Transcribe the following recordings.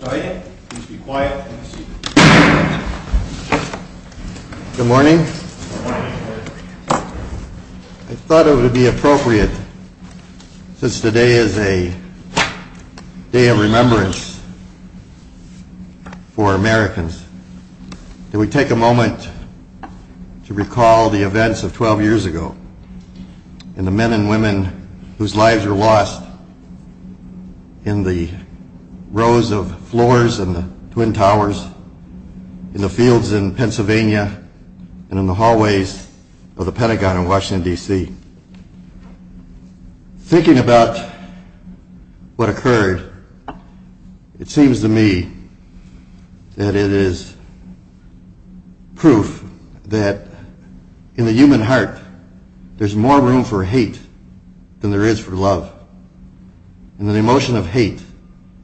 Good morning. I thought it would be appropriate, since today is a day of remembrance for Americans, that we take a moment to recall the events of 12 years ago. It seems to me that it is proof that in the human heart, there is more room for hate than there is for love. And the emotion of hate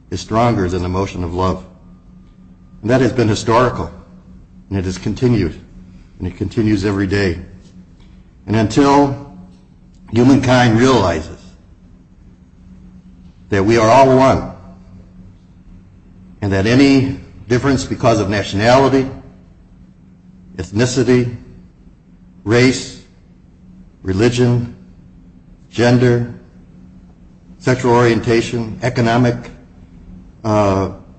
is stronger than the emotion of love. And that has been historical, and it has continued, and it continues every day. And until humankind realizes that we are all one, and that any difference because of nationality, ethnicity, race, religion, gender, sexual orientation, economic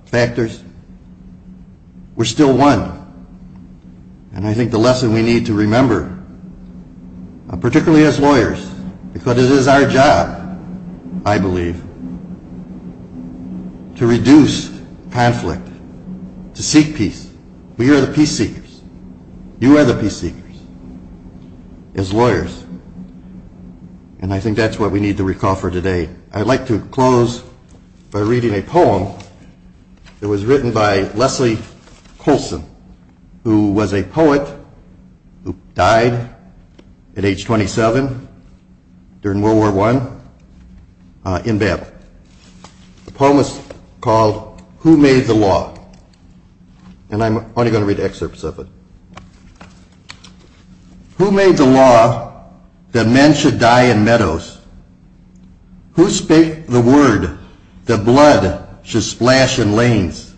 factors, we're still one. And I think the lesson we need to remember, particularly as lawyers, because it is our job, I believe, to reduce conflict, to seek peace. We are the peace-seekers. You are the peace-seekers, as lawyers. And I think that's what we need to recall for today. I'd like to close by reading a poem that was written by Leslie Coulson, who was a poet who died at age 27 during World War I in battle. The poem is called, Who Made the Law? And I'm only going to read excerpts of it. Who made the law that men should die in meadows? Who spake the word that blood should splash in lanes?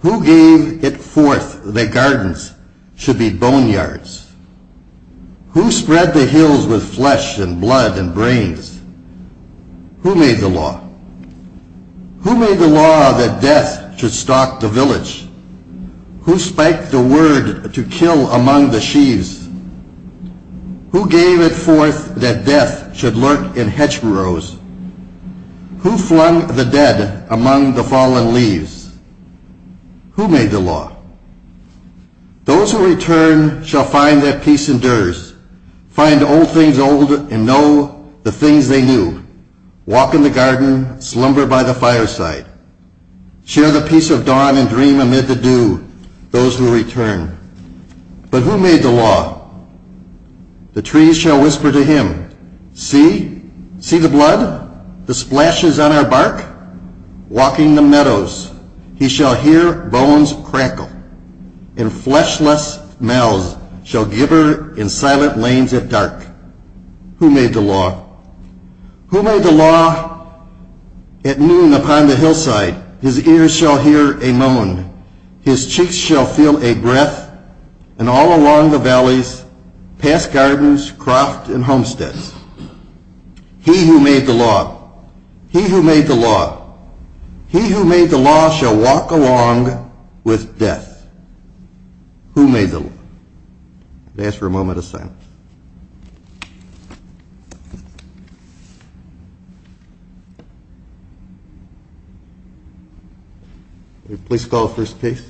Who gave it forth that gardens should be boneyards? Who spread the hills with flesh and blood and brains? Who made the law? Who made the law that death should stalk the village? Who spiked the sheaves? Who gave it forth that death should lurk in hedge burrows? Who flung the dead among the fallen leaves? Who made the law? Those who return shall find that peace endures. Find old things old and know the things they knew. Walk in the garden, slumber by the fireside. Share the peace of dawn and dream amid the dew, those who return. But who made the law? The trees shall whisper to him, see, see the blood, the splashes on our bark? Walking the meadows, he shall hear bones crackle and fleshless mouths shall gibber in silent lanes at dark. Who made the law? Who made the law? At noon upon the hillside, his ears shall hear a moan, his cheeks shall feel a breath, and all along the valleys, past gardens, croft, and homesteads. He who made the law, he who made the law, he who made the law shall walk along with death. Who made the law? I'm going to ask for a moment of silence. Please call the first case.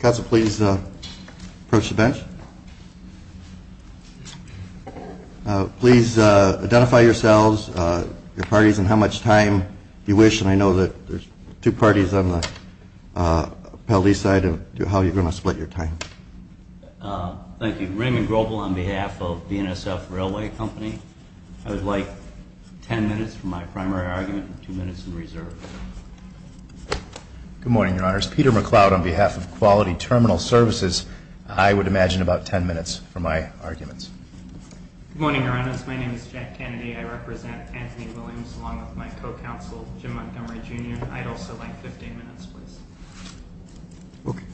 Council, please approach the bench. Please identify yourselves, your parties, and how you're going to split your time. Thank you. Raymond Groble on behalf of BNSF Railway Company. I would like 10 minutes for my primary argument and two minutes in reserve. Good morning, Your Honors. Peter McLeod on behalf of Quality Terminal Services. I would imagine about 10 minutes for my arguments. Good morning, Your Honors. My name is Jack Kennedy. I would also like 15 minutes, please. Okay.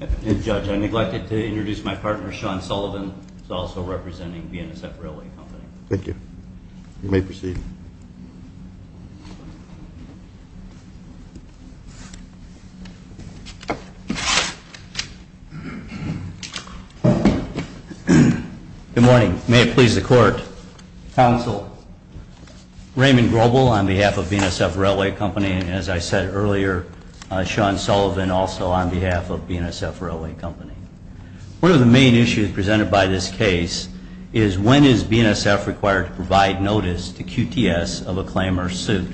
That's fine. Judge, I neglected to introduce my partner, Sean Sullivan, who is also representing BNSF Railway Company. Thank you. You may proceed. Good morning. May it please the Court. Council, Raymond Groble on behalf of BNSF Railway Company, and as I said earlier, Sean Sullivan also on behalf of BNSF Railway Company. One of the main issues presented by this case is when is BNSF required to provide notice to QTS of a claim or suit.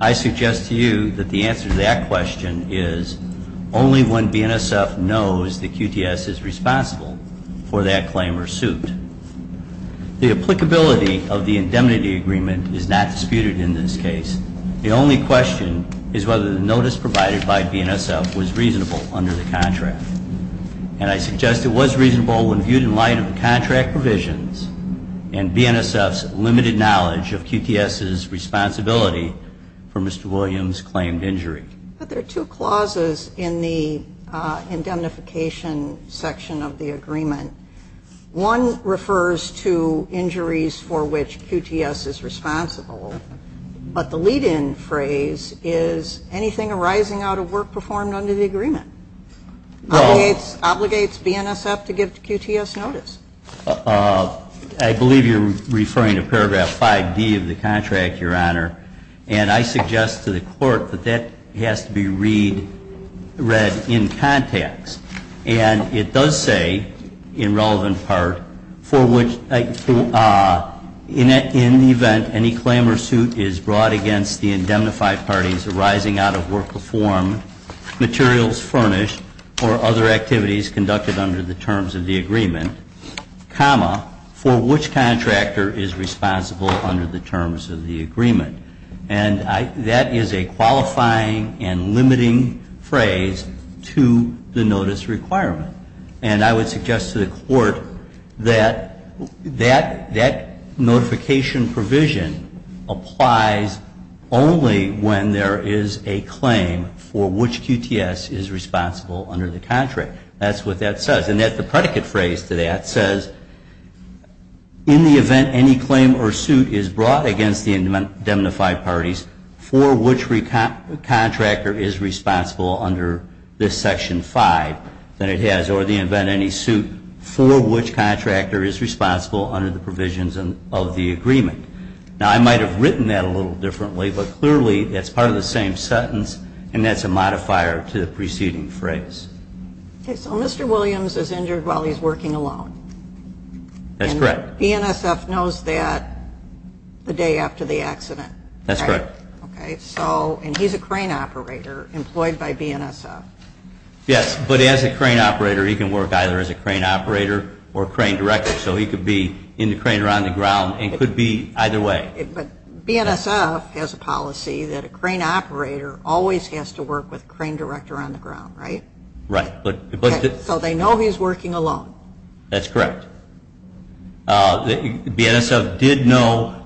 I suggest to you that the answer to that question is only when BNSF knows that QTS is responsible for that claim or suit. The applicability of the indemnity agreement is not disputed in this case. The only question is whether the notice provided by BNSF was reasonable under the contract. And I suggest it was reasonable when viewed in light of the contract provisions and BNSF's limited knowledge of QTS's responsibility for Mr. I believe you are referring to paragraph 5D of the contract, Your Honor, and I suggest to the Court that that has to be read in context. And it does say, in relevant part, for which, in the context of the contract, for which the claimant is entitled to provide notice to QTS of a claim or suit, and I think that's correct. In the event any claim or suit is brought against the indemnified parties arising out of work performed, materials furnished, or other activities conducted under the terms of the agreement, comma, for which contractor is responsible under the terms of the agreement. And that is a qualifying and limiting phrase to the notice requirement. And I would suggest to the Court that that notification provision applies only when there is a claim for which QTS is responsible under the contract. That's what that says. And the predicate phrase to that says, in the event any claim or suit is brought against the indemnified parties, for which contractor is responsible under this section 5, then it has, or in the event any suit, for which contractor is responsible under the provisions of the agreement. Now I might have written that a little differently, but clearly that's part of the same sentence and that's a correct. And he's a crane operator employed by BNSF. Yes, but as a crane operator he can work either as a crane operator or crane director. So he could be in the crane or on the ground and could be either way. But BNSF has a policy that a crane operator always has to work with crane director on the ground, right? Right. So they know he's working alone. BNSF did not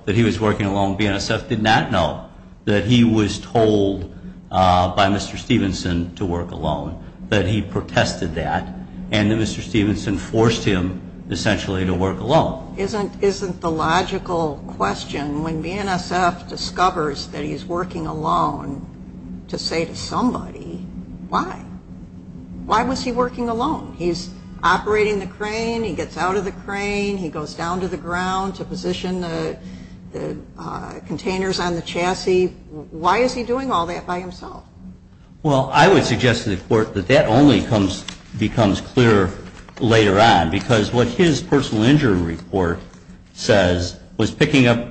know that he was told by Mr. Stephenson to work alone, that he protested that and that Mr. Stephenson forced him essentially to work alone. Isn't the logical question, when BNSF discovers that he's working alone, to say to somebody, why? Why was he working alone? He's operating the containers on the chassis. Why is he doing all that by himself? Well, I would suggest to the Court that that only becomes clearer later on, because what his personal injury report says was picking up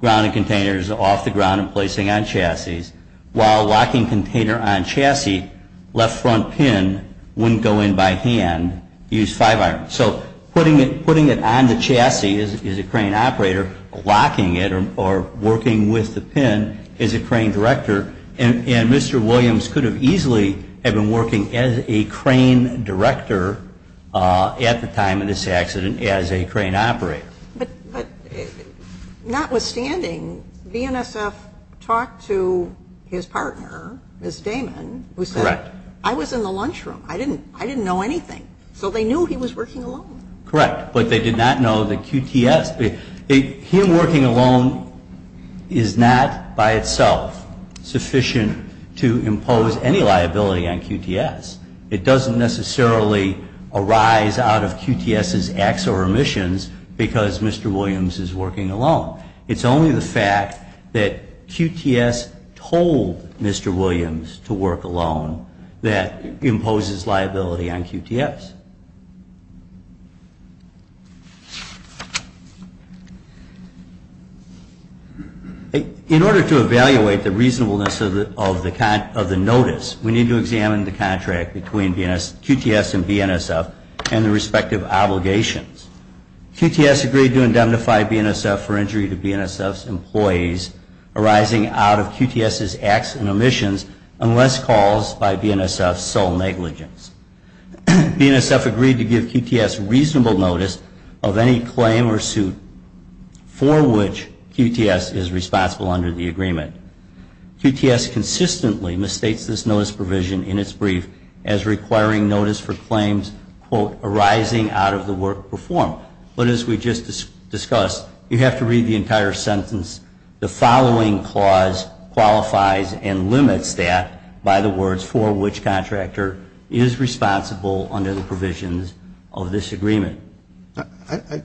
ground and containers off the ground and placing on chassis, while locking container on chassis, left front pin wouldn't go in by hand, use five iron. So putting it on the chassis as a crane operator, locking it or working with the pin as a crane director, and Mr. Williams could have easily been working as a crane director at the time of this accident as a crane operator. But notwithstanding, BNSF talked to his partner, Ms. Damon, who said I was in the So they knew he was working alone. Correct. But they did not know that QTS, him working alone is not by itself sufficient to impose any liability on QTS. It doesn't necessarily arise out of QTS's acts or omissions because Mr. Williams is working alone. It's only the fact that QTS told Mr. Williams to work alone that imposes liability on QTS. In order to evaluate the reasonableness of the notice, we need to examine the contract between QTS and BNSF and the respective obligations. QTS agreed to indemnify BNSF for injury to BNSF's employees arising out of QTS's acts and omissions unless caused by BNSF's sole negligence. BNSF agreed to give QTS reasonable notice of any claim or suit for which QTS is responsible under the agreement. QTS consistently misstates this notice provision in its brief as requiring notice for claims, quote, arising out of the work performed. But as we just discussed, you have to read the entire sentence. The following clause qualifies and limits that by the words for which contractor is responsible under the provisions of this agreement. I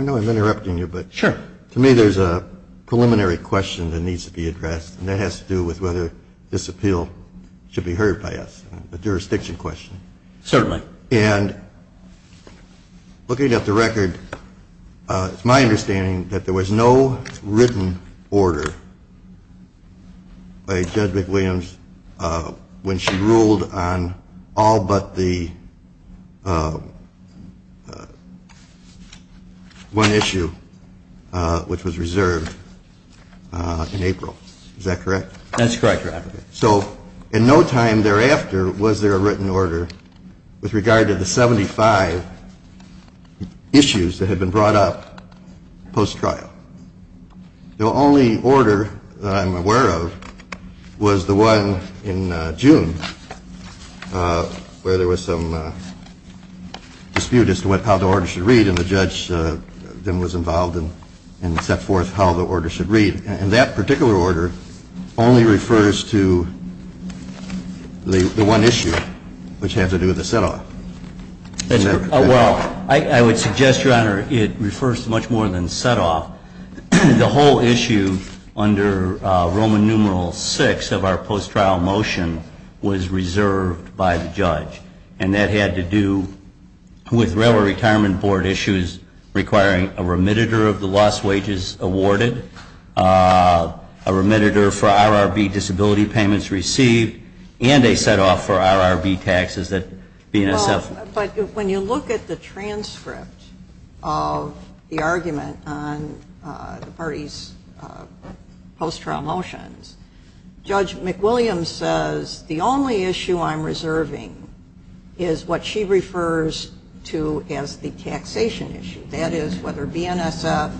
know I'm interrupting you, but to me there's a preliminary question that needs to be addressed and that has to do with whether this appeal should be heard by us, a jurisdiction question. Certainly. And looking at the record, it's my understanding that there was no written order by Judge McWilliams when she ruled on all but the one issue which was reserved in April. Is that correct? That's correct, Your Honor. So in no time thereafter was there a written order with regard to the 75 issues that had been brought up post-trial. The only order that I'm aware of was the one in June where there was some dispute as to how the order should read and the judge then was involved and set forth how the order should read. And that particular order only refers to the one issue which had to do with the set-off. Well, I would suggest, Your Honor, it refers to much more than set-off. The whole issue under Roman numeral VI of our post-trial motion was reserved by the judge. And that had to do with Railroad Retirement Board issues requiring a remitter of the lost wages awarded, a remitter for RRB disability payments received, and a set-off for RRB taxes. But when you look at the transcript of the argument on the party's post-trial motions, Judge McWilliams says the only issue I'm reserving is what she refers to as the taxation issue. That is, whether BNSF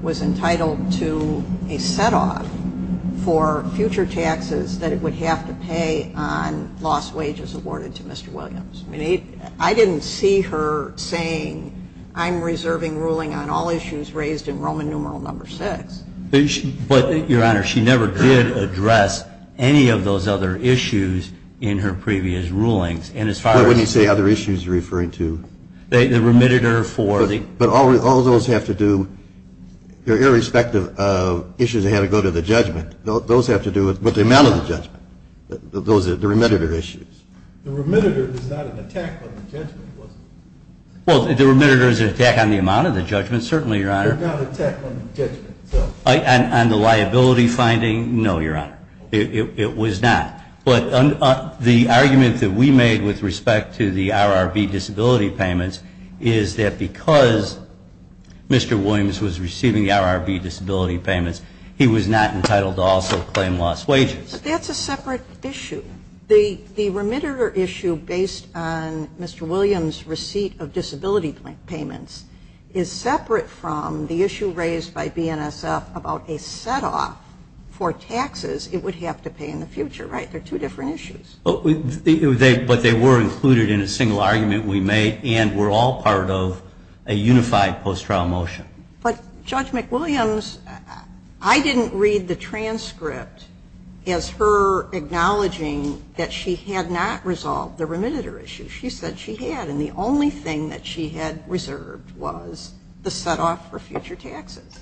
was entitled to a set-off for future taxes that it would have to pay on lost wages awarded to Mr. Williams. I didn't see her saying, I'm reserving ruling on all issues raised in Roman numeral VI. But, Your Honor, she never did address any of those other issues in her previous rulings. Well, wouldn't you say other issues you're referring to? The remitter for the – But all those have to do – irrespective of issues that had to go to the judgment, those have to do with the amount of the judgment, the remitter issues. The remitter is not an attack on the judgment, was it? Well, the remitter is an attack on the amount of the judgment, certainly, Your Honor. It's not an attack on the judgment, so – On the liability finding? No, Your Honor. It was not. But the argument that we made with respect to the RRB disability payments is that because Mr. Williams was receiving the RRB disability payments, he was not entitled to also claim lost wages. But that's a separate issue. The remitter issue based on Mr. Williams' receipt of disability payments is separate from the issue raised by BNSF about a set-off for taxes it would have to pay in the future, right? They're two different issues. But they were included in a single argument we made and were all part of a unified post-trial motion. But Judge McWilliams, I didn't read the transcript as her acknowledging that she had not resolved the remitter issue. She said she had, and the only thing that she had reserved was the set-off for future taxes.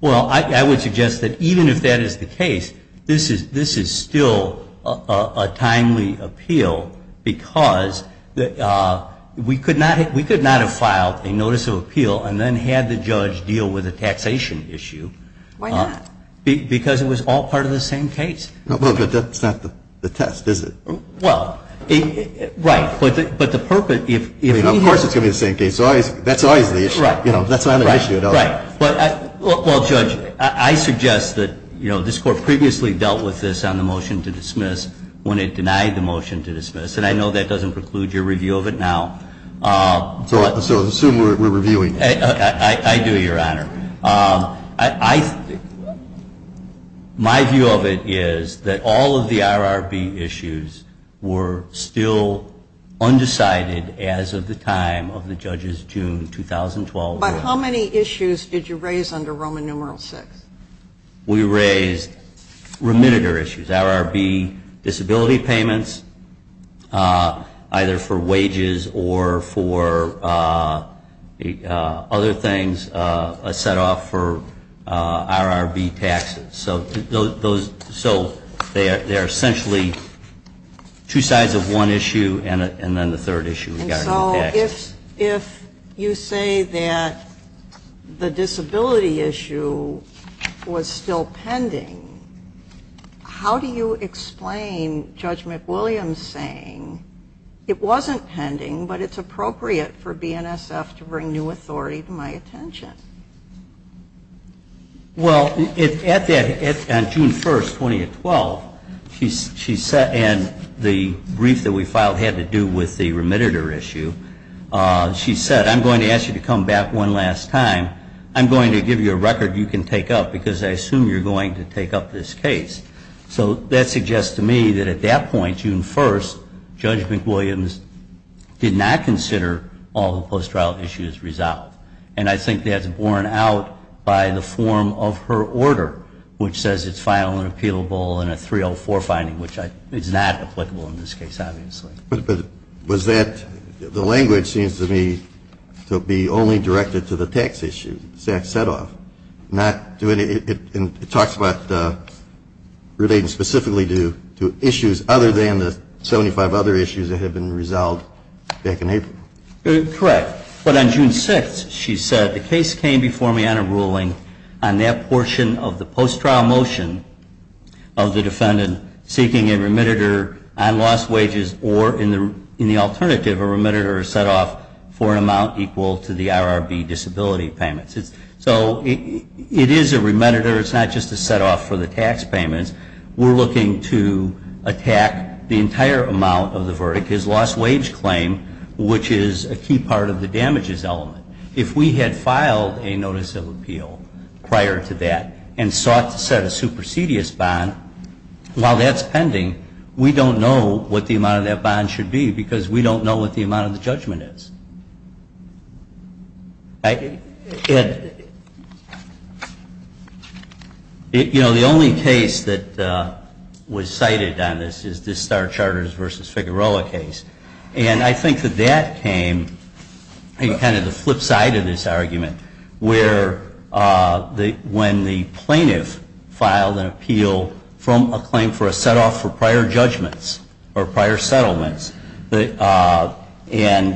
Well, I would suggest that even if that is the case, this is still a timely appeal because we could not have filed a notice of appeal and then had the judge deal with a taxation issue. Why not? Because it was all part of the same case. But that's not the test, is it? Well, right. But the purpose – Of course it's going to be the same case. That's always the issue. Right. That's another issue. Well, Judge, I suggest that this Court previously dealt with this on the motion to dismiss when it denied the motion to dismiss. And I know that doesn't preclude your review of it now. So assume we're reviewing it. I do, Your Honor. My view of it is that all of the RRB issues were still undecided as of the time of the judge's June 2012 ruling. But how many issues did you raise under Roman numeral VI? We raised remitter issues, RRB disability payments, either for wages or for other things set off for RRB taxes. So they are essentially two sides of one issue, and then the third issue regarding taxes. If you say that the disability issue was still pending, how do you explain Judge McWilliams saying, it wasn't pending, but it's appropriate for BNSF to bring new authority to my attention? Well, on June 1st, 2012, she said in the brief that we filed had to do with the remitter issue, she said, I'm going to ask you to come back one last time. I'm going to give you a record you can take up, because I assume you're going to take up this case. So that suggests to me that at that point, June 1st, Judge McWilliams did not consider all the post-trial issues resolved. And I think that's borne out by the form of her order, which says it's final and appealable in a 304 finding, which is not applicable in this case, obviously. But was that, the language seems to me to be only directed to the tax issue, SACS setoff, not to any, it talks about relating specifically to issues other than the 75 other issues that had been resolved back in April. Correct. But on June 6th, she said, the case came before me on a ruling on that portion of the post-trial motion of the defendant seeking a remitter on lost wages, or in the alternative, a remitter setoff for an amount equal to the RRB disability payments. So it is a remitter. It's not just a setoff for the tax payments. We're looking to attack the entire amount of the verdict, his lost wage claim, which is a key part of the damages element. If we had filed a notice of appeal prior to that and sought to set a supersedious bond, while that's pending, we don't know what the amount of that bond should be because we don't know what the amount of the judgment is. You know, the only case that was cited on this is the Star Charters v. Figueroa case. And I think that that came kind of the flip side of this argument, where when the plaintiff filed an appeal from a claim for a setoff for prior judgments or prior settlements, and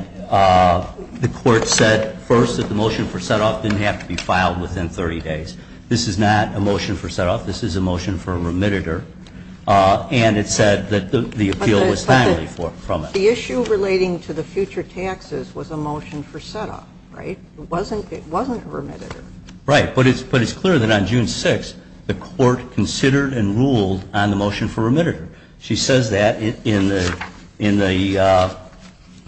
the court said first that the motion for setoff didn't have to be filed within 30 days. This is not a motion for setoff. This is a motion for a remitter. And it said that the appeal was timely from it. But the issue relating to the future taxes was a motion for setoff, right? It wasn't a remitter. Right. But it's clear that on June 6, the court considered and ruled on the motion for remitter. She says that in the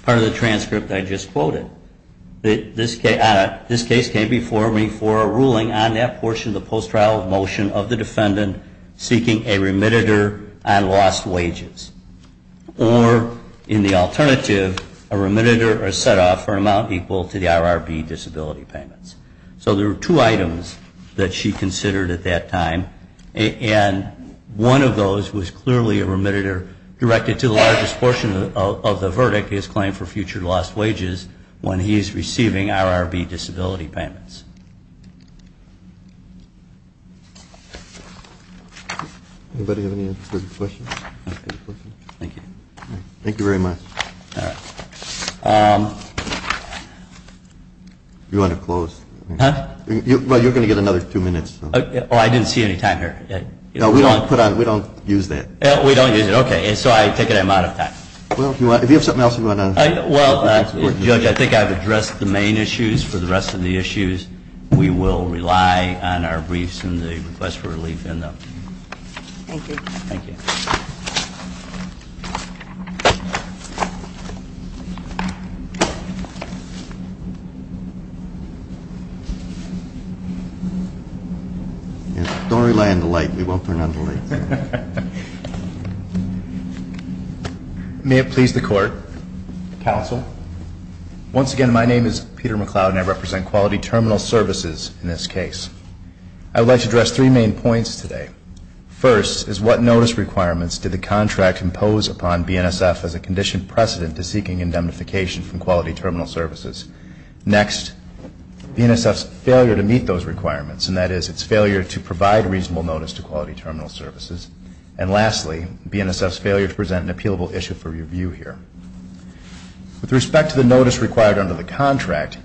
part of the transcript I just quoted. This case came before me for a ruling on that portion of the post-trial motion of the defendant seeking a remitter on lost wages. Or, in the alternative, a remitter or setoff for an amount equal to the RRB disability payments. So there were two items that she considered at that time. And one of those was clearly a remitter directed to the largest portion of the verdict, his claim for future lost wages, when he is receiving RRB disability payments. Anybody have any answers to your questions? Thank you. Thank you very much. All right. You want to close? Huh? Well, you're going to get another two minutes. Oh, I didn't see any time here. No, we don't use that. We don't use it. Okay. So I take it I'm out of time. Well, if you have something else you want to add. Well, Judge, I think I've addressed the main issues. For the rest of the issues, we will rely on our briefs and the request for relief in them. Thank you. Thank you. Thank you. Don't rely on the light. We won't turn on the light. May it please the Court, Counsel, once again, my name is Peter McCloud, and I represent Quality Terminal Services in this case. I would like to address three main points today. First is what notice requirements did the contract impose upon BNSF as a conditioned precedent to seeking indemnification from Quality Terminal Services? Next, BNSF's failure to meet those requirements, and that is its failure to provide reasonable notice to Quality Terminal Services. And lastly, BNSF's failure to present an appealable issue for review here. With respect to the notice required under the contract,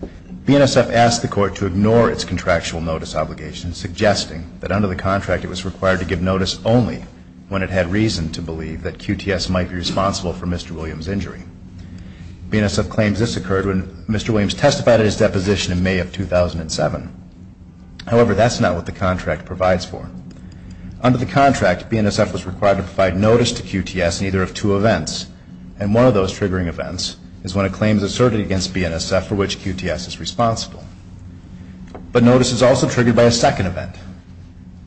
BNSF asked the Court to ignore its contractual notice obligation, suggesting that under the contract it was required to give notice only when it had reason to believe that QTS might be responsible for Mr. Williams' injury. BNSF claims this occurred when Mr. Williams testified at his deposition in May of 2007. However, that's not what the contract provides for. Under the contract, BNSF was required to provide notice to QTS in either of two events, and one of those triggering events is when a claim is asserted against BNSF for which QTS is responsible. But notice is also triggered by a second event,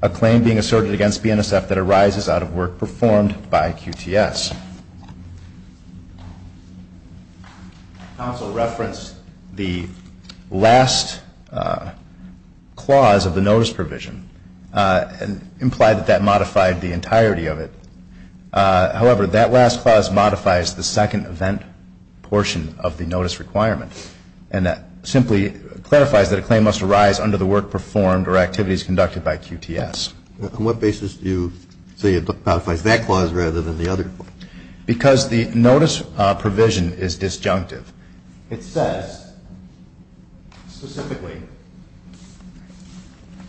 a claim being asserted against BNSF that arises out of work performed by QTS. Counsel referenced the last clause of the notice provision and implied that that modified the entirety of it. However, that last clause modifies the second event portion of the notice requirement, and that simply clarifies that a claim must arise under the work performed or activities conducted by QTS. On what basis do you say it modifies that clause rather than the other? Because the notice provision is disjunctive. It says, specifically,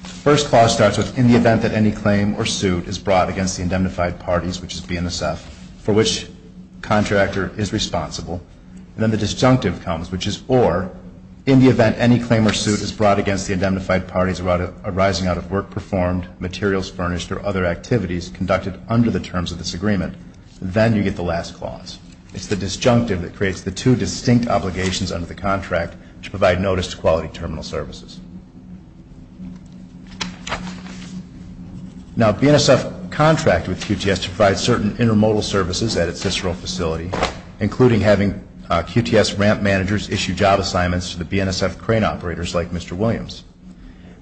the first clause starts with, in the event that any claim or suit is brought against the indemnified parties, which is BNSF, for which the contractor is responsible. And then the disjunctive comes, which is or, in the event any claim or suit is brought against the indemnified parties arising out of work performed, materials furnished, or other activities conducted under the terms of this agreement. Then you get the last clause. It's the disjunctive that creates the two distinct obligations under the contract to provide notice to quality terminal services. Now, BNSF contracted with QTS to provide certain intermodal services at its Cicero facility, including having QTS ramp managers issue job assignments to the BNSF crane operators like Mr. Williams.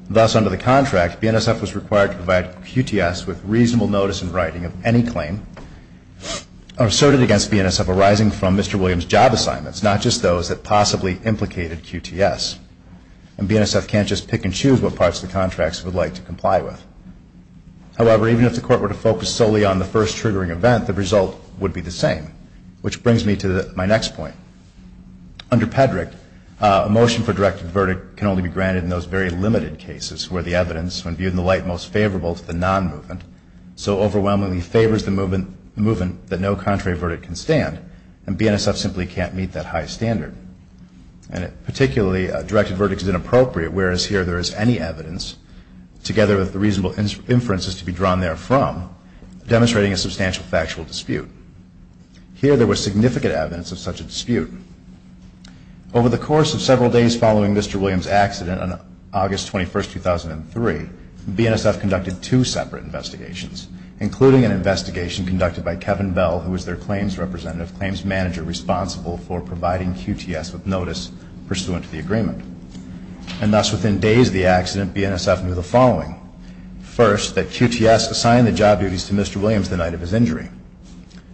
Thus, under the contract, BNSF was required to provide QTS with reasonable notice in writing of any claim asserted against BNSF arising from Mr. Williams' job assignments, not just those that possibly implicated QTS. And BNSF can't just pick and choose what parts of the contracts it would like to comply with. However, even if the court were to focus solely on the first triggering event, the result would be the same, which brings me to my next point. Under Peddrick, a motion for directive verdict can only be granted in those very limited cases where the evidence, when viewed in the light most favorable to the non-movement, so overwhelmingly favors the movement that no contrary verdict can stand, and BNSF simply can't meet that high standard. And particularly, a directive verdict is inappropriate whereas here there is any evidence, together with the reasonable inferences to be drawn therefrom, demonstrating a substantial factual dispute. Here there was significant evidence of such a dispute. Over the course of several days following Mr. Williams' accident on August 21, 2003, BNSF conducted two separate investigations, including an investigation conducted by Kevin Bell, who was their claims representative, claims manager responsible for providing QTS with notice pursuant to the agreement. And thus, within days of the accident, BNSF knew the following. First, that QTS assign the job duties to Mr. Williams the night of his injury.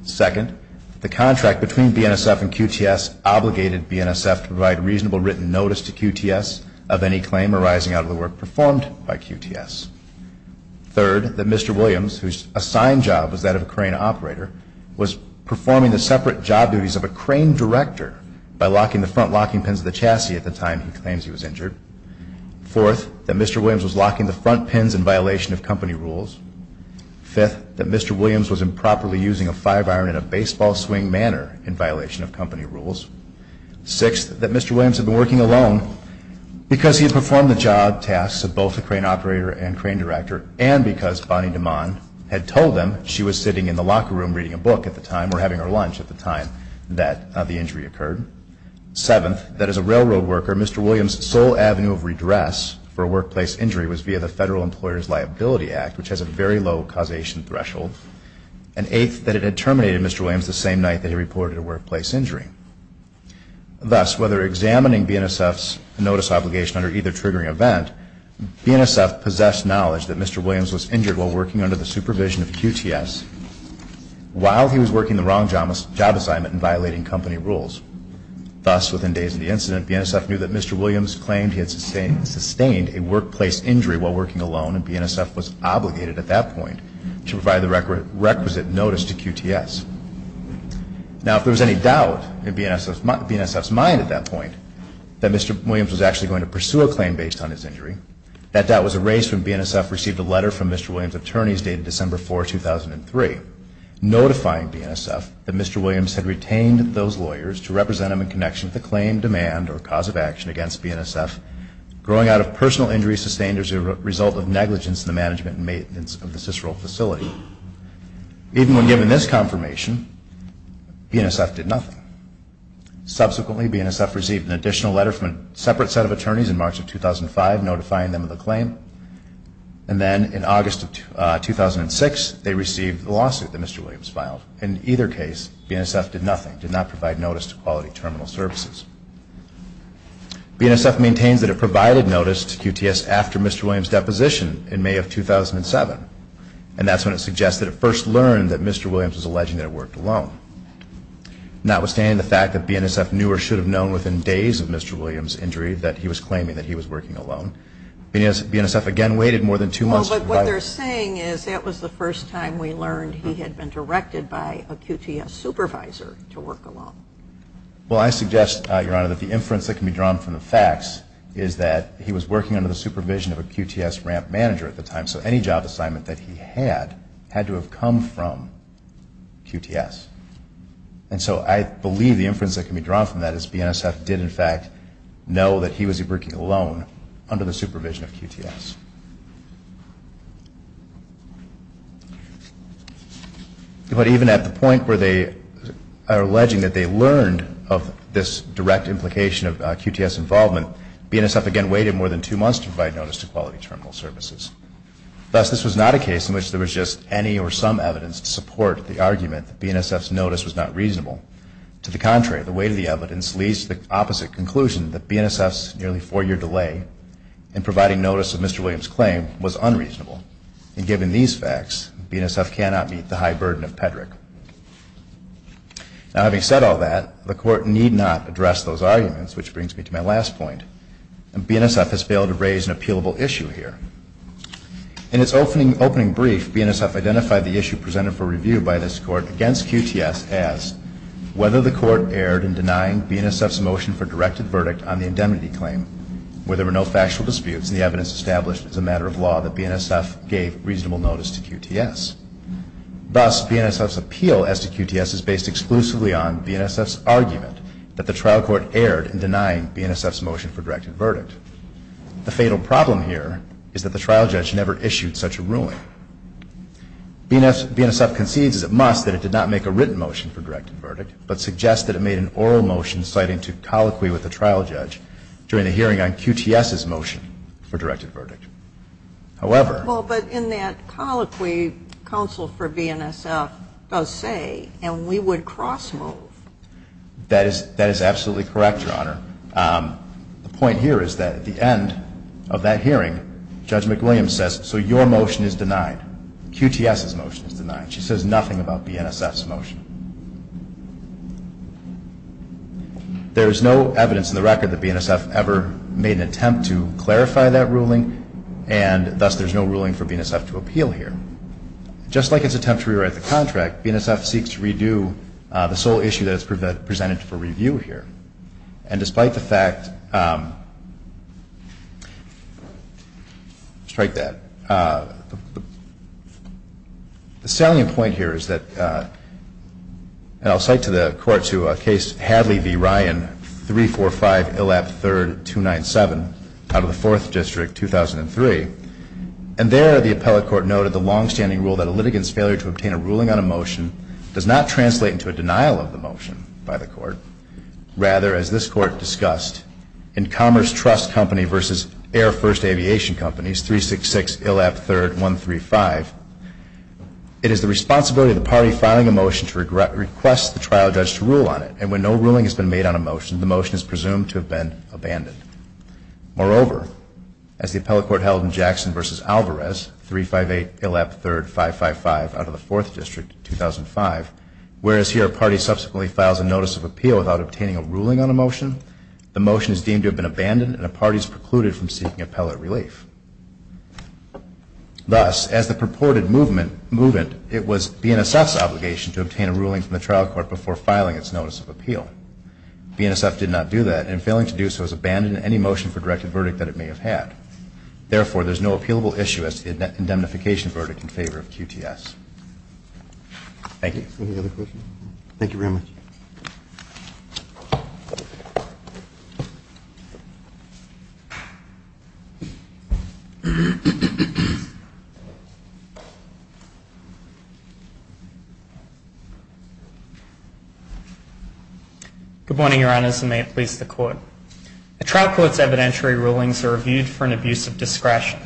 Second, the contract between BNSF and QTS obligated BNSF to provide reasonable written notice to QTS of any claim arising out of the work performed by QTS. Third, that Mr. Williams, whose assigned job was that of a crane operator, was performing the separate job duties of a crane director by locking the front locking pins of the chassis at the time he claims he was injured. Fourth, that Mr. Williams was locking the front pins in violation of company rules. Fifth, that Mr. Williams was improperly using a five iron in a baseball swing manner in violation of company rules. Sixth, that Mr. Williams had been working alone because he had performed the job tasks of both the crane operator and crane director and because Bonnie DeMond had told him she was sitting in the locker room reading a book at the time or having her lunch at the time that the injury occurred. Seventh, that as a railroad worker, Mr. Williams' sole avenue of redress for a workplace injury was via the Federal Employer's Liability Act, which has a very low causation threshold. And eighth, that it had terminated Mr. Williams the same night that he reported a workplace injury. Thus, whether examining BNSF's notice obligation under either triggering event, BNSF possessed knowledge that Mr. Williams was injured while working under the supervision of QTS while he was working the wrong job assignment and violating company rules. Thus, within days of the incident, BNSF knew that Mr. Williams claimed he had sustained a workplace injury while working alone and BNSF was obligated at that point to provide the requisite notice to QTS. Now, if there was any doubt in BNSF's mind at that point, that Mr. Williams was actually going to pursue a claim based on his injury, that doubt was erased when BNSF received a letter from Mr. Williams' attorneys dated December 4, 2003 notifying BNSF that Mr. Williams had retained those lawyers to represent him in connection with the claim, demand, or cause of action against BNSF, growing out of personal injury sustained as a result of negligence in the management and maintenance of the Cicero facility. Even when given this confirmation, BNSF did nothing. Subsequently, BNSF received an additional letter from a separate set of attorneys in March of 2005 notifying them of the claim. And then in August of 2006, they received the lawsuit that Mr. Williams filed. In either case, BNSF did nothing, did not provide notice to Quality Terminal Services. BNSF maintains that it provided notice to QTS after Mr. Williams' deposition in May of 2007 and that's when it suggests that it first learned that Mr. Williams was alleging that it worked alone. Notwithstanding the fact that BNSF knew or should have known within days of Mr. Williams' injury that he was claiming that he was working alone, BNSF again waited more than two months. But what they're saying is that was the first time we learned he had been directed by a QTS supervisor to work alone. Well, I suggest, Your Honor, that the inference that can be drawn from the facts is that he was working under the supervision of a QTS ramp manager at the time, so any job assignment that he had had to have come from QTS. And so I believe the inference that can be drawn from that is BNSF did, in fact, know that he was working alone under the supervision of QTS. But even at the point where they are alleging that they learned of this direct implication of QTS involvement, BNSF again waited more than two months to provide notice to Quality Terminal Services. Thus, this was not a case in which there was just any or some evidence to support the argument that BNSF's notice was not reasonable. To the contrary, the weight of the evidence leads to the opposite conclusion that BNSF's nearly four-year delay in providing notice of Mr. Williams' claim was unreasonable. And given these facts, BNSF cannot meet the high burden of PEDREC. Now, having said all that, the Court need not address those arguments, which brings me to my last point. BNSF has failed to raise an appealable issue here. In its opening brief, BNSF identified the issue presented for review by this Court against QTS as whether the Court erred in denying BNSF's motion for a directed verdict on the indemnity claim where there were no factual disputes and the evidence established as a matter of law that BNSF gave reasonable notice to QTS. Thus, BNSF's appeal as to QTS is based exclusively on BNSF's argument that the trial court erred in denying BNSF's motion for a directed verdict. The fatal problem here is that the trial judge never issued such a ruling. BNSF concedes as it must that it did not make a written motion for a directed verdict, but suggests that it made an oral motion citing to colloquy with the trial judge during the hearing on QTS's motion for directed verdict. However... Well, but in that colloquy, counsel for BNSF does say, and we would cross-move. That is absolutely correct, Your Honor. The point here is that at the end of that hearing, Judge McWilliams says, so your motion is denied, QTS's motion is denied. She says nothing about BNSF's motion. There is no evidence in the record that BNSF ever made an attempt to clarify that ruling, and thus there is no ruling for BNSF to appeal here. Just like its attempt to rewrite the contract, BNSF seeks to redo the sole issue that is presented for review here. And despite the fact... Strike that. The salient point here is that, and I'll cite to the Court to a case, Hadley v. Ryan, 345 Illap 3rd, 297, out of the 4th District, 2003. And there the appellate court noted the longstanding rule that a litigant's failure to obtain a ruling on a motion does not translate into a denial of the motion by the court. Rather, as this Court discussed, in Commerce Trust Company v. Air First Aviation Companies, 366 Illap 3rd, 135, it is the responsibility of the party filing a motion to request the trial judge to rule on it. And when no ruling has been made on a motion, the motion is presumed to have been abandoned. Moreover, as the appellate court held in Jackson v. Alvarez, 358 Illap 3rd, 555, out of the 4th District, 2005, whereas here a party subsequently files a notice of appeal without obtaining a ruling on a motion, the motion is deemed to have been abandoned and a party is precluded from seeking appellate relief. Thus, as the purported movement, it was BNSF's obligation to obtain a ruling from the trial court before filing its notice of appeal. BNSF did not do that, and failing to do so has abandoned any motion for directed verdict that it may have had. Therefore, there is no appealable issue as to the indemnification verdict in favor of QTS. Thank you. Good morning, Your Honors, and may it please the Court. The trial court's evidentiary rulings are reviewed for an abuse of discretion.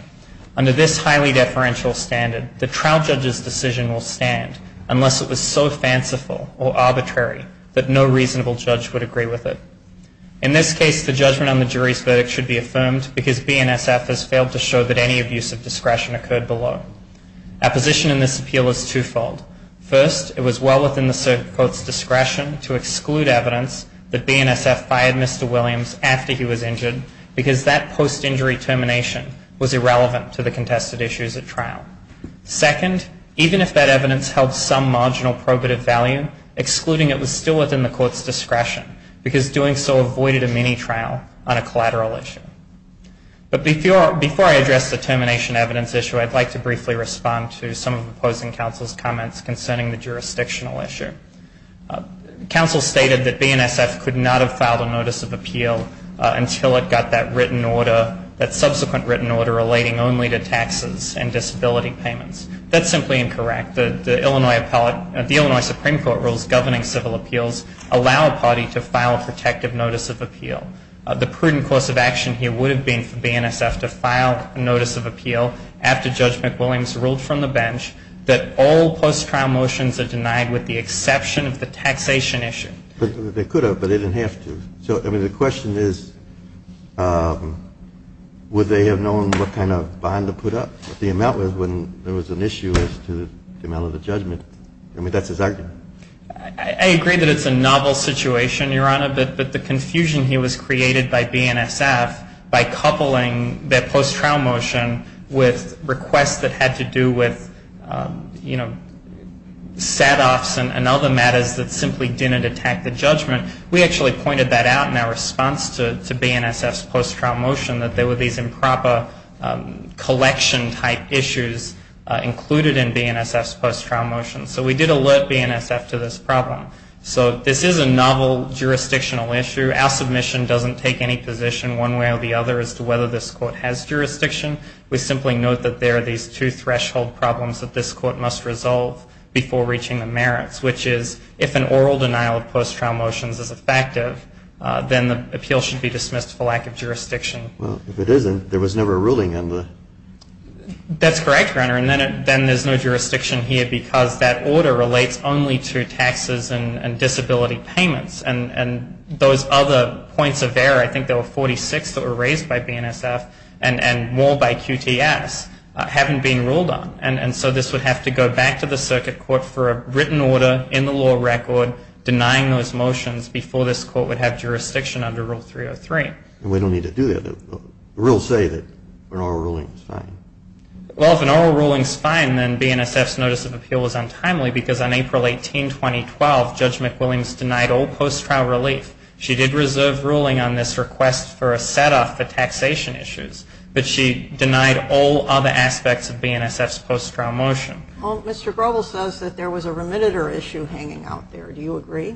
Under this highly deferential standard, the trial judge's decision will stand unless it was so fanciful or arbitrary that no reasonable judge would agree with it. In this case, the judgment on the jury's verdict should be affirmed because BNSF has failed to show that any abuse of discretion occurred below. Our position in this appeal is twofold. First, it was well within the court's discretion to exclude evidence that BNSF fired Mr. Williams after he was injured because that post-injury termination was irrelevant to the contested issues at trial. Second, even if that evidence held some marginal probative value, excluding it was still within the court's discretion because doing so avoided a mini-trial on a collateral issue. But before I address the termination evidence issue, I'd like to briefly respond to some of the opposing counsel's comments concerning the jurisdictional issue. Counsel stated that BNSF could not have filed a notice of appeal until it got that written order, that subsequent written order relating only to taxes and disability payments. That's simply incorrect. The Illinois Supreme Court rules governing civil appeals allow a party to file a protective notice of appeal. The prudent course of action here would have been for BNSF to file a notice of appeal after Judge McWilliams ruled from the bench that all post-trial motions are denied with the exception of the taxation issue. They could have, but they didn't have to. So I mean, the question is, would they have known what kind of bond to put up, what the amount was when there was an issue as to the amount of the judgment? I mean, that's his argument. I agree that it's a novel situation, Your Honor, but the confusion here was created by BNSF by coupling their post-trial motion with requests that had to do with, you know, setoffs and other matters that simply didn't attack the judgment. We actually pointed that out in our response to BNSF's post-trial motion, that there were these improper collection-type issues included in BNSF's post-trial motion. So we did alert BNSF to this problem. So this is a novel jurisdictional issue. Our submission doesn't take any position one way or the other as to whether this court has jurisdiction. We simply note that there are these two threshold problems that this court must resolve before reaching the merits, which is if an oral denial of post-trial motions is effective, then the appeal should be dismissed for lack of jurisdiction. Well, if it isn't, there was never a ruling on the ---- That's correct, Your Honor. And then there's no jurisdiction here because that order relates only to taxes and disability payments. And those other points of error, I think there were 46 that were raised by BNSF and more by QTS, haven't been ruled on. And so this would have to go back to the circuit court for a written order in the law record denying those motions before this court would have jurisdiction under Rule 303. And we don't need to do that. The rules say that an oral ruling is fine. Well, if an oral ruling is fine, then BNSF's notice of appeal is untimely because on April 18, 2012, Judge McWilliams denied all post-trial relief. She did reserve ruling on this request for a set-off for taxation issues, but she denied all other aspects of BNSF's post-trial motion. Well, Mr. Groble says that there was a remitter issue hanging out there. Do you agree?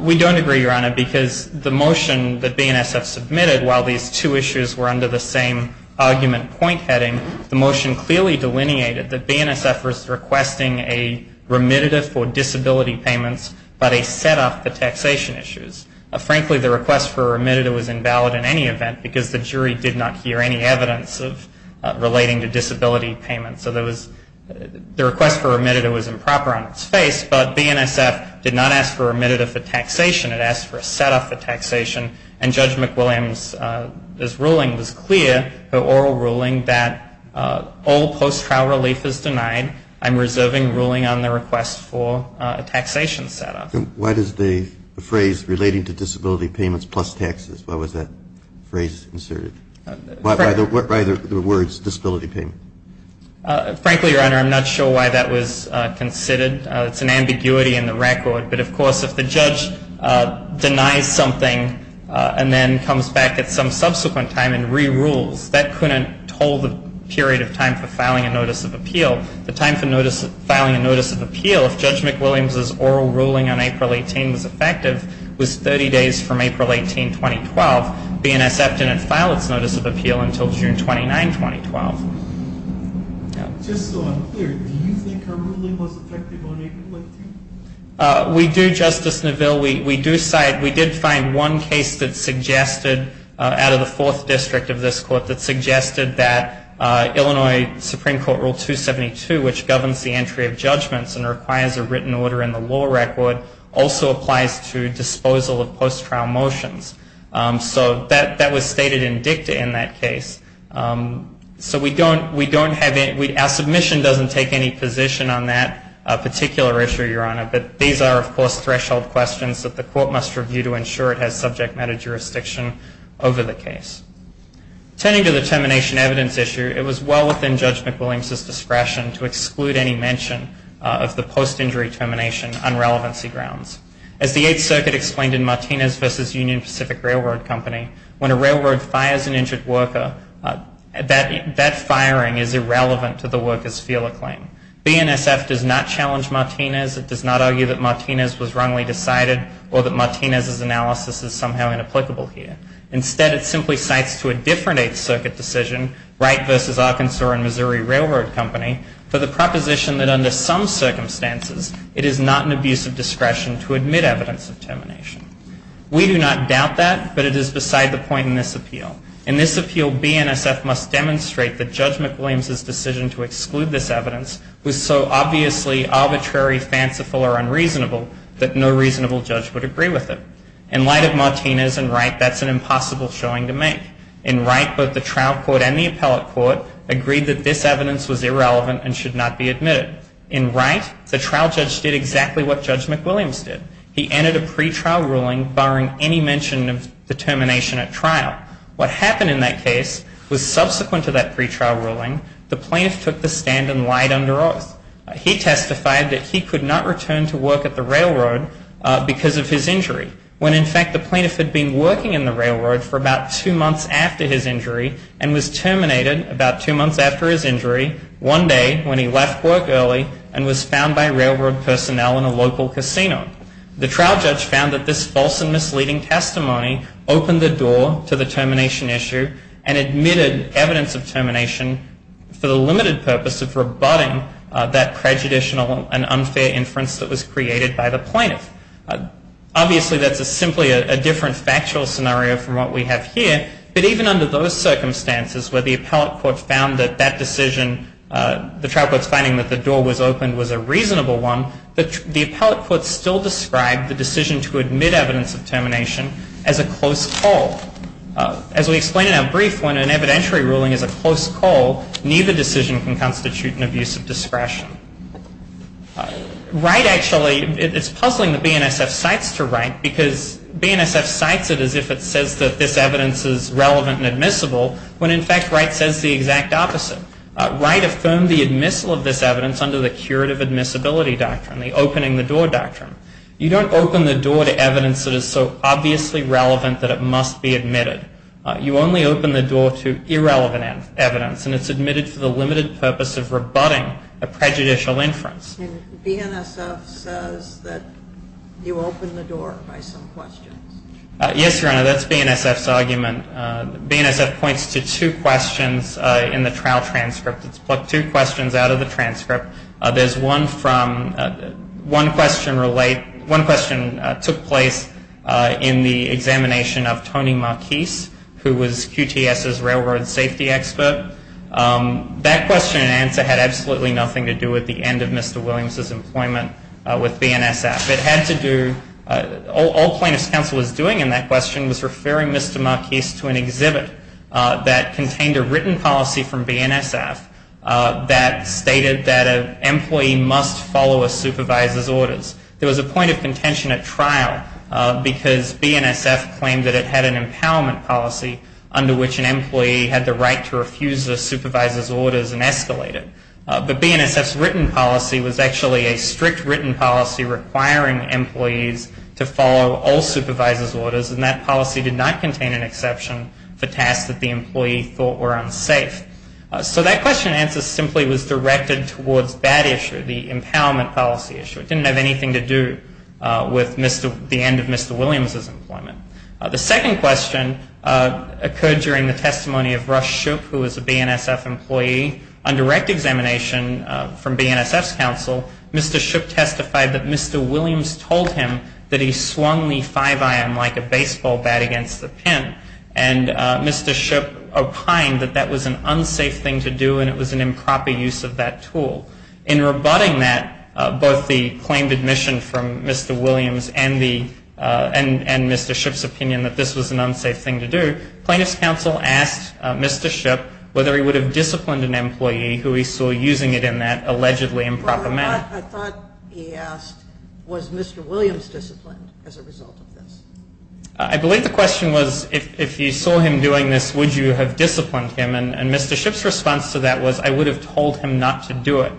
We don't agree, Your Honor, because the motion that BNSF submitted, while these two issues were under the same argument point heading, the motion clearly delineated that BNSF was requesting a remitter for disability payments, but a set-off for taxation issues. Frankly, the request for a remitter was invalid in any event because the jury did not hear any evidence relating to disability payments. So the request for a remitter was improper on its face, but BNSF did not ask for a remitter for taxation. It asked for a set-off for taxation. And Judge McWilliams' ruling was clear, her oral ruling, that all post-trial relief is denied. I'm reserving ruling on the request for a taxation set-off. Why does the phrase relating to disability payments plus taxes, why was that phrase inserted? Why the words disability payment? Frankly, Your Honor, I'm not sure why that was considered. It's an ambiguity in the record. But, of course, if the judge denies something and then comes back at some subsequent time and re-rules, that couldn't hold the period of time for filing a notice of appeal. The time for filing a notice of appeal, if Judge McWilliams' oral ruling on April 18 was effective, was 30 days from April 18, 2012. BNSF didn't file its notice of appeal until June 29, 2012. Just so I'm clear, do you think her ruling was effective on April 18? We do, Justice Neville. We did find one case that suggested, out of the Fourth District of this court, that suggested that Illinois Supreme Court Rule 272, which governs the entry of judgments and requires a written order in the law record, also applies to disposal of post-trial motions. So that was stated in dicta in that case. So our submission doesn't take any position on that particular issue, Your Honor. But these are, of course, threshold questions that the court must review to ensure it has subject matter jurisdiction over the case. Turning to the termination evidence issue, it was well within Judge McWilliams' discretion to exclude any mention of the post-injury termination on relevancy grounds. As the Eighth Circuit explained in Martinez v. Union Pacific Railroad Company, when a railroad fires an injured worker, that firing is irrelevant to the worker's feel or claim. BNSF does not challenge Martinez. It does not argue that Martinez was wrongly decided or that Martinez's analysis is somehow inapplicable here. Instead, it simply cites to a different Eighth Circuit decision, Wright v. Arkansas and Missouri Railroad Company, for the proposition that under some circumstances, it is not an abuse of discretion to admit evidence of termination. We do not doubt that, but it is beside the point in this appeal. In this appeal, BNSF must demonstrate that Judge McWilliams' decision to exclude this evidence was so obviously arbitrary, fanciful, or unreasonable that no reasonable judge would agree with it. In light of Martinez and Wright, that's an impossible showing to make. In Wright, both the trial court and the appellate court agreed that this evidence was irrelevant and should not be admitted. In Wright, the trial judge did exactly what Judge McWilliams did. He entered a pretrial ruling barring any mention of the termination at trial. What happened in that case was subsequent to that pretrial ruling, the plaintiff took the stand and lied under oath. He testified that he could not return to work at the railroad because of his injury, when in fact the plaintiff had been working in the railroad for about two months after his injury and was terminated about two months after his injury, one day when he left work early and was found by railroad personnel in a local casino. The trial judge found that this false and misleading testimony opened the door to the termination issue and admitted evidence of termination for the limited purpose of rebutting that prejudicial and unfair inference that was created by the plaintiff. Obviously, that's simply a different factual scenario from what we have here, but even under those circumstances where the appellate court found that that decision, the trial court's finding that the door was opened was a reasonable one, the appellate court still described the decision to admit evidence of termination as a close call. As we explained in our brief, when an evidentiary ruling is a close call, neither decision can constitute an abuse of discretion. Wright actually, it's puzzling that BNSF cites to Wright because BNSF cites it as if it says that this evidence is relevant and admissible when in fact Wright says the exact opposite. Wright affirmed the admissible of this evidence under the curative admissibility doctrine, the opening the door doctrine. You don't open the door to evidence that is so obviously relevant that it must be admitted. You only open the door to irrelevant evidence and it's admitted for the limited purpose of rebutting a prejudicial inference. BNSF says that you open the door by some questions. Yes, Your Honor, that's BNSF's argument. BNSF points to two questions in the trial transcript. It's plucked two questions out of the transcript. There's one from, one question took place in the examination of Tony Marquis, who was QTS's railroad safety expert. That question and answer had absolutely nothing to do with the end of Mr. Williams' employment with BNSF. It had to do, all plaintiff's counsel was doing in that question was referring Mr. Marquis to an exhibit that contained a written policy from BNSF that stated that an employee must follow a supervisor's orders. There was a point of contention at trial because BNSF claimed that it had an orders and escalated. But BNSF's written policy was actually a strict written policy requiring employees to follow all supervisors' orders and that policy did not contain an exception for tasks that the employee thought were unsafe. So that question and answer simply was directed towards that issue, the empowerment policy issue. It didn't have anything to do with the end of Mr. Williams' employment. The second question occurred during the testimony of Rush Shoup, who was a BNSF employee. On direct examination from BNSF's counsel, Mr. Shoup testified that Mr. Williams told him that he swung the 5-iron like a baseball bat against the pin and Mr. Shoup opined that that was an unsafe thing to do and it was an improper use of that tool. In rebutting that, both the claimed admission from Mr. Williams and Mr. Shoup's opinion that this was an unsafe thing to do, plaintiff's counsel asked Mr. Shoup whether he would have disciplined an employee who he saw using it in that allegedly improper manner. I thought he asked was Mr. Williams disciplined as a result of this? I believe the question was if you saw him doing this, would you have disciplined him? And Mr. Shoup's response to that was I would have told him not to do it.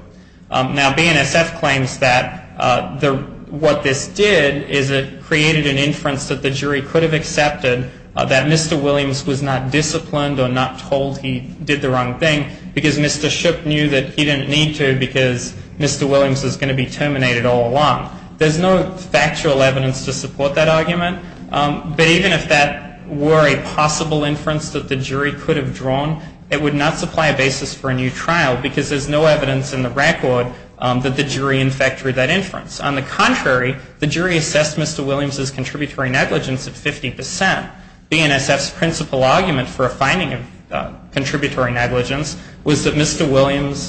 Now, BNSF claims that what this did is it created an inference that the jury could have accepted that Mr. Williams was not disciplined or not told he did the wrong thing because Mr. Shoup knew that he didn't need to because Mr. Williams was going to be terminated all along. There's no factual evidence to support that argument, but even if that were a possible inference that the jury could have drawn, it would not supply a basis for a new trial because there's no evidence in the record that the jury in fact drew that inference. On the contrary, the jury assessed Mr. Williams' contributory negligence at 50%. BNSF's principal argument for a finding of contributory negligence was that Mr. Williams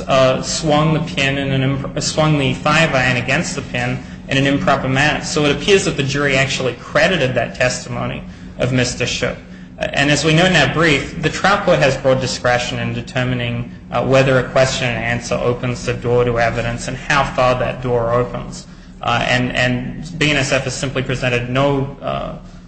swung the five iron against the pin in an improper manner. So it appears that the jury actually credited that testimony of Mr. Shoup. And as we know in that brief, the trial court has broad discretion in determining whether a question and how far that door opens. And BNSF has simply presented no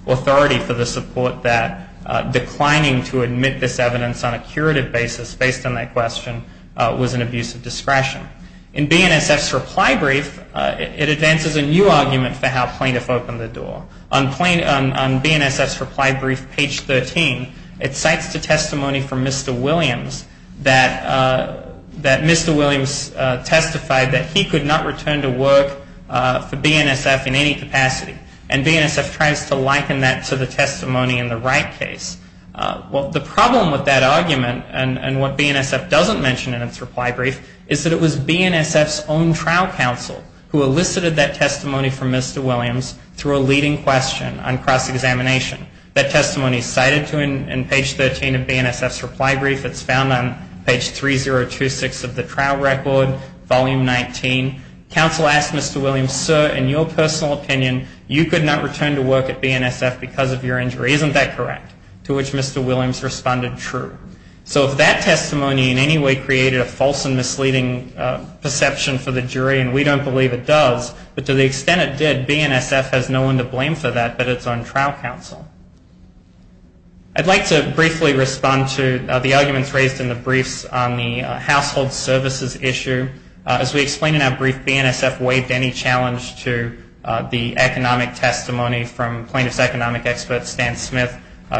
authority for the support that declining to admit this evidence on a curative basis based on that question was an abuse of discretion. In BNSF's reply brief, it advances a new argument for how plaintiffs opened the door. On BNSF's reply brief, page 13, it cites the testimony from Mr. Williams testifying that he could not return to work for BNSF in any capacity. And BNSF tries to liken that to the testimony in the Wright case. Well, the problem with that argument and what BNSF doesn't mention in its reply brief is that it was BNSF's own trial counsel who elicited that testimony from Mr. Williams through a leading question on cross-examination. That testimony is cited in page 13 of BNSF's reply brief. It's found on page 3026 of the trial record, volume 19. Counsel asked Mr. Williams, sir, in your personal opinion, you could not return to work at BNSF because of your injury. Isn't that correct? To which Mr. Williams responded, true. So if that testimony in any way created a false and misleading perception for the jury, and we don't believe it does, but to the extent it did, BNSF has no one to blame for that, but its own trial counsel. I'd like to briefly respond to the arguments raised in the briefs on the household services issue. As we explained in our brief, BNSF waived any challenge to the economic testimony from plaintiff's economic expert, Stan Smith,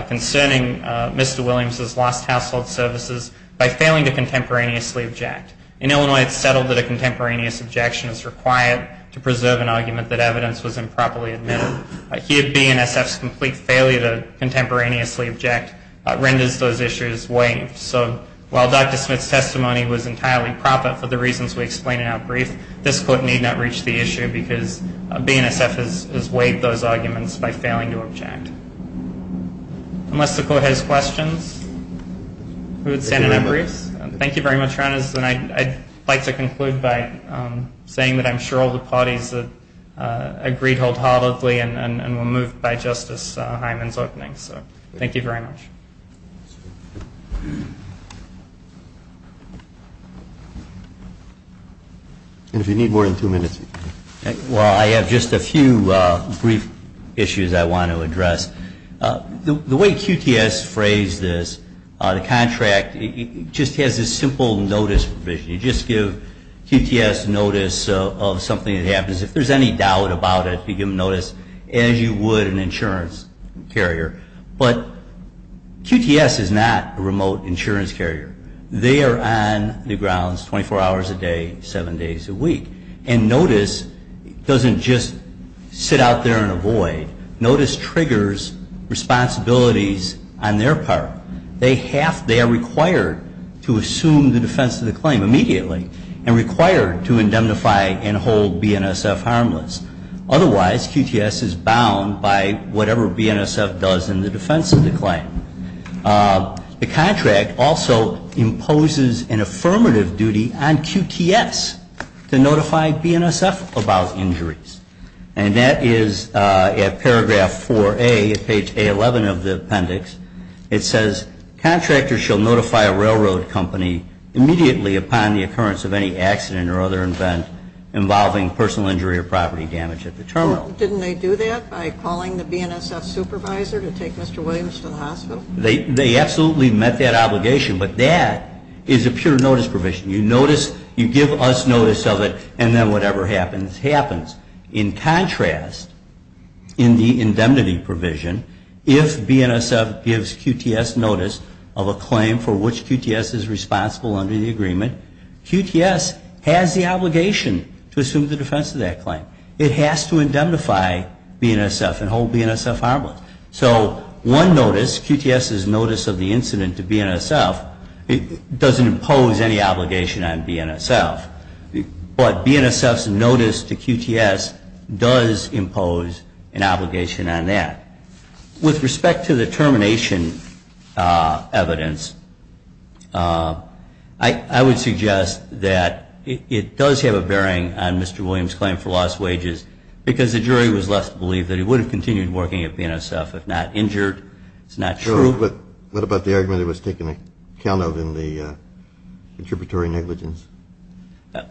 concerning Mr. Williams's lost household services by failing to contemporaneously object. In Illinois, it's settled that a contemporaneous objection is required to preserve an argument that evidence was improperly admitted. Here, BNSF's complete failure to contemporaneously object renders those issues waived. So while Dr. Smith's testimony was entirely proper for the reasons we explained in our brief, this court need not reach the issue because BNSF has waived those arguments by failing to object. Unless the court has questions, we would stand in our briefs. Thank you very much, Your Honors. And I'd like to conclude by saying that I'm sure all the parties agreed hold heartily and were moved by Justice Hyman's opening. So thank you very much. And if you need more than two minutes, you can go. Well, I have just a few brief issues I want to address. The way QTS phrased this, the contract, it just has this simple notice provision. You just give QTS notice of something that happens. If there's any doubt about it, you give them notice, as you would an insurance carrier. But QTS is not a remote insurance carrier. They are on the grounds 24 hours a day, seven days a week. And notice doesn't just sit out there in a void. Notice triggers responsibilities on their part. They are required to assume the defense of the claim immediately and required to indemnify and hold BNSF harmless. Otherwise, QTS is bound by whatever BNSF does in the defense of the claim. The contract also imposes an affirmative duty on QTS to notify BNSF about injuries. And that is at paragraph 4A, page A11 of the appendix. It says, contractors shall notify a railroad company immediately upon the other event involving personal injury or property damage at the terminal. Didn't they do that by calling the BNSF supervisor to take Mr. Williams to the hospital? They absolutely met that obligation. But that is a pure notice provision. You notice, you give us notice of it, and then whatever happens, happens. In contrast, in the indemnity provision, if BNSF gives QTS notice of a claim for which QTS is responsible under the agreement, QTS has the obligation to assume the defense of that claim. It has to indemnify BNSF and hold BNSF harmless. So one notice, QTS's notice of the incident to BNSF, doesn't impose any obligation on BNSF. But BNSF's notice to QTS does impose an obligation on that. With respect to the termination evidence, I would suggest that it does have a bearing on Mr. Williams' claim for lost wages because the jury was left to believe that he would have continued working at BNSF if not injured. It's not true. What about the argument it was taken account of in the contributory negligence? No,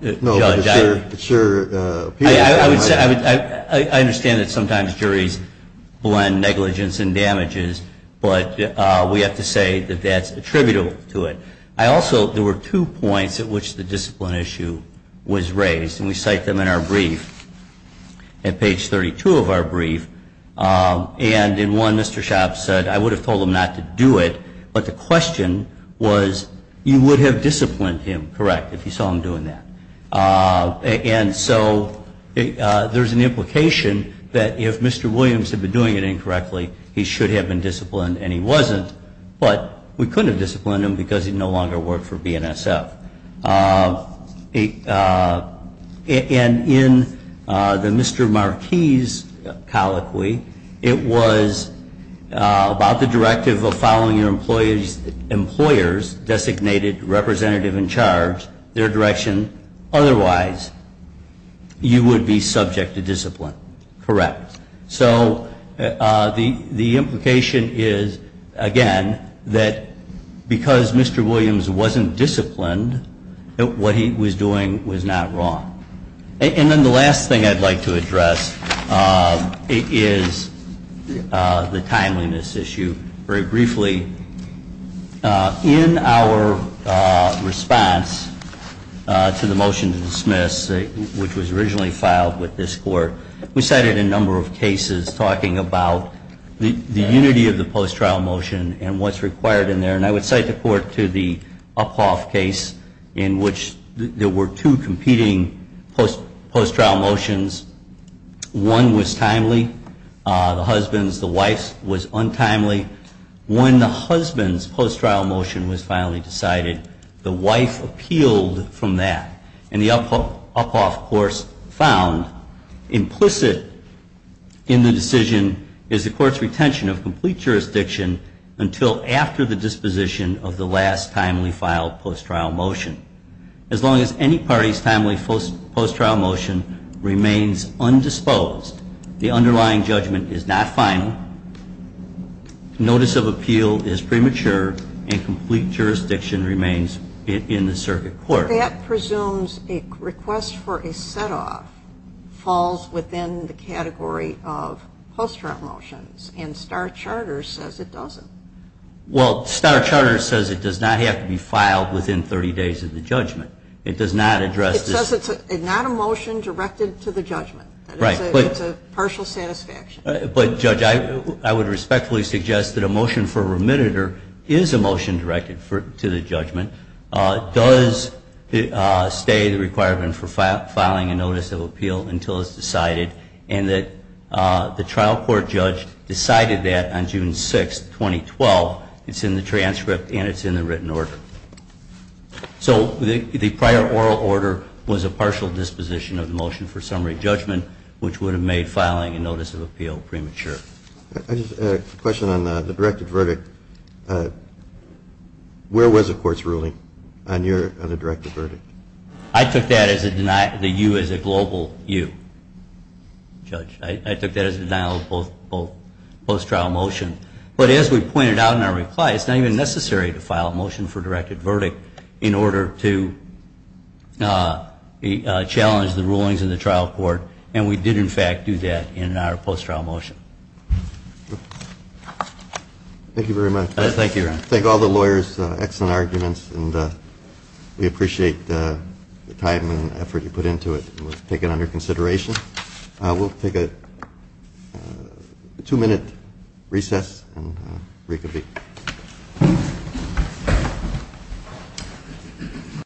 but it sure appears that way. I understand that sometimes juries blend negligence and damages, but we have to say that that's attributable to it. There were two points at which the discipline issue was raised, and we cite them in our brief, at page 32 of our brief. And in one, Mr. Schaub said, I would have told him not to do it, but the question was, you would have disciplined him, correct, if you saw him doing that. And so there's an implication that if Mr. Williams had been doing it incorrectly, he should have been disciplined, and he wasn't. But we couldn't have disciplined him because he no longer worked for BNSF. And in the Mr. Marquis' colloquy, it was about the directive of following your employer's designated representative in charge, their direction. Otherwise, you would be subject to discipline, correct. So the implication is, again, that because Mr. Williams wasn't disciplined, what he was doing was not wrong. And then the last thing I'd like to address is the timeliness issue. Very briefly, in our response to the motion to dismiss, which was originally filed with this court, we cited a number of cases talking about the unity of the post-trial motion and what's required in there. And I would cite the court to the Uphoff case in which there were two competing post-trial motions. One was timely. The husband's, the wife's was untimely. When the husband's post-trial motion was finally decided, the wife appealed from that. And the Uphoff court found implicit in the decision is the court's retention of complete jurisdiction until after the disposition of the last timely filed post-trial motion. As long as any party's timely post-trial motion remains undisposed, the underlying judgment is not final, notice of appeal is premature, and complete jurisdiction remains in the circuit court. But that presumes a request for a set-off falls within the category of post-trial motions, and Star Charter says it doesn't. Well, Star Charter says it does not have to be filed within 30 days of the judgment. It does not address this. It says it's not a motion directed to the judgment. It's a partial satisfaction. But, Judge, I would respectfully suggest that a motion for remitter is a motion directed to the judgment, does stay the requirement for filing a notice of appeal until it's decided, and that the trial court judge decided that on June 6, 2012, it's in the transcript and it's in the written order. So the prior oral order was a partial disposition of the motion for summary judgment, which would have made filing a notice of appeal premature. I just have a question on the directed verdict. Where was the court's ruling on the directed verdict? I took that as a denial of the U as a global U, Judge. I took that as a denial of both post-trial motions. But as we pointed out in our reply, it's not even necessary to file a motion for directed verdict in order to challenge the rulings in the trial court. And we did, in fact, do that in our post-trial motion. Thank you very much. Thank you, Ron. Thank all the lawyers. Excellent arguments. And we appreciate the time and effort you put into it. We'll take it under consideration. We'll take a two-minute recess and reconvene.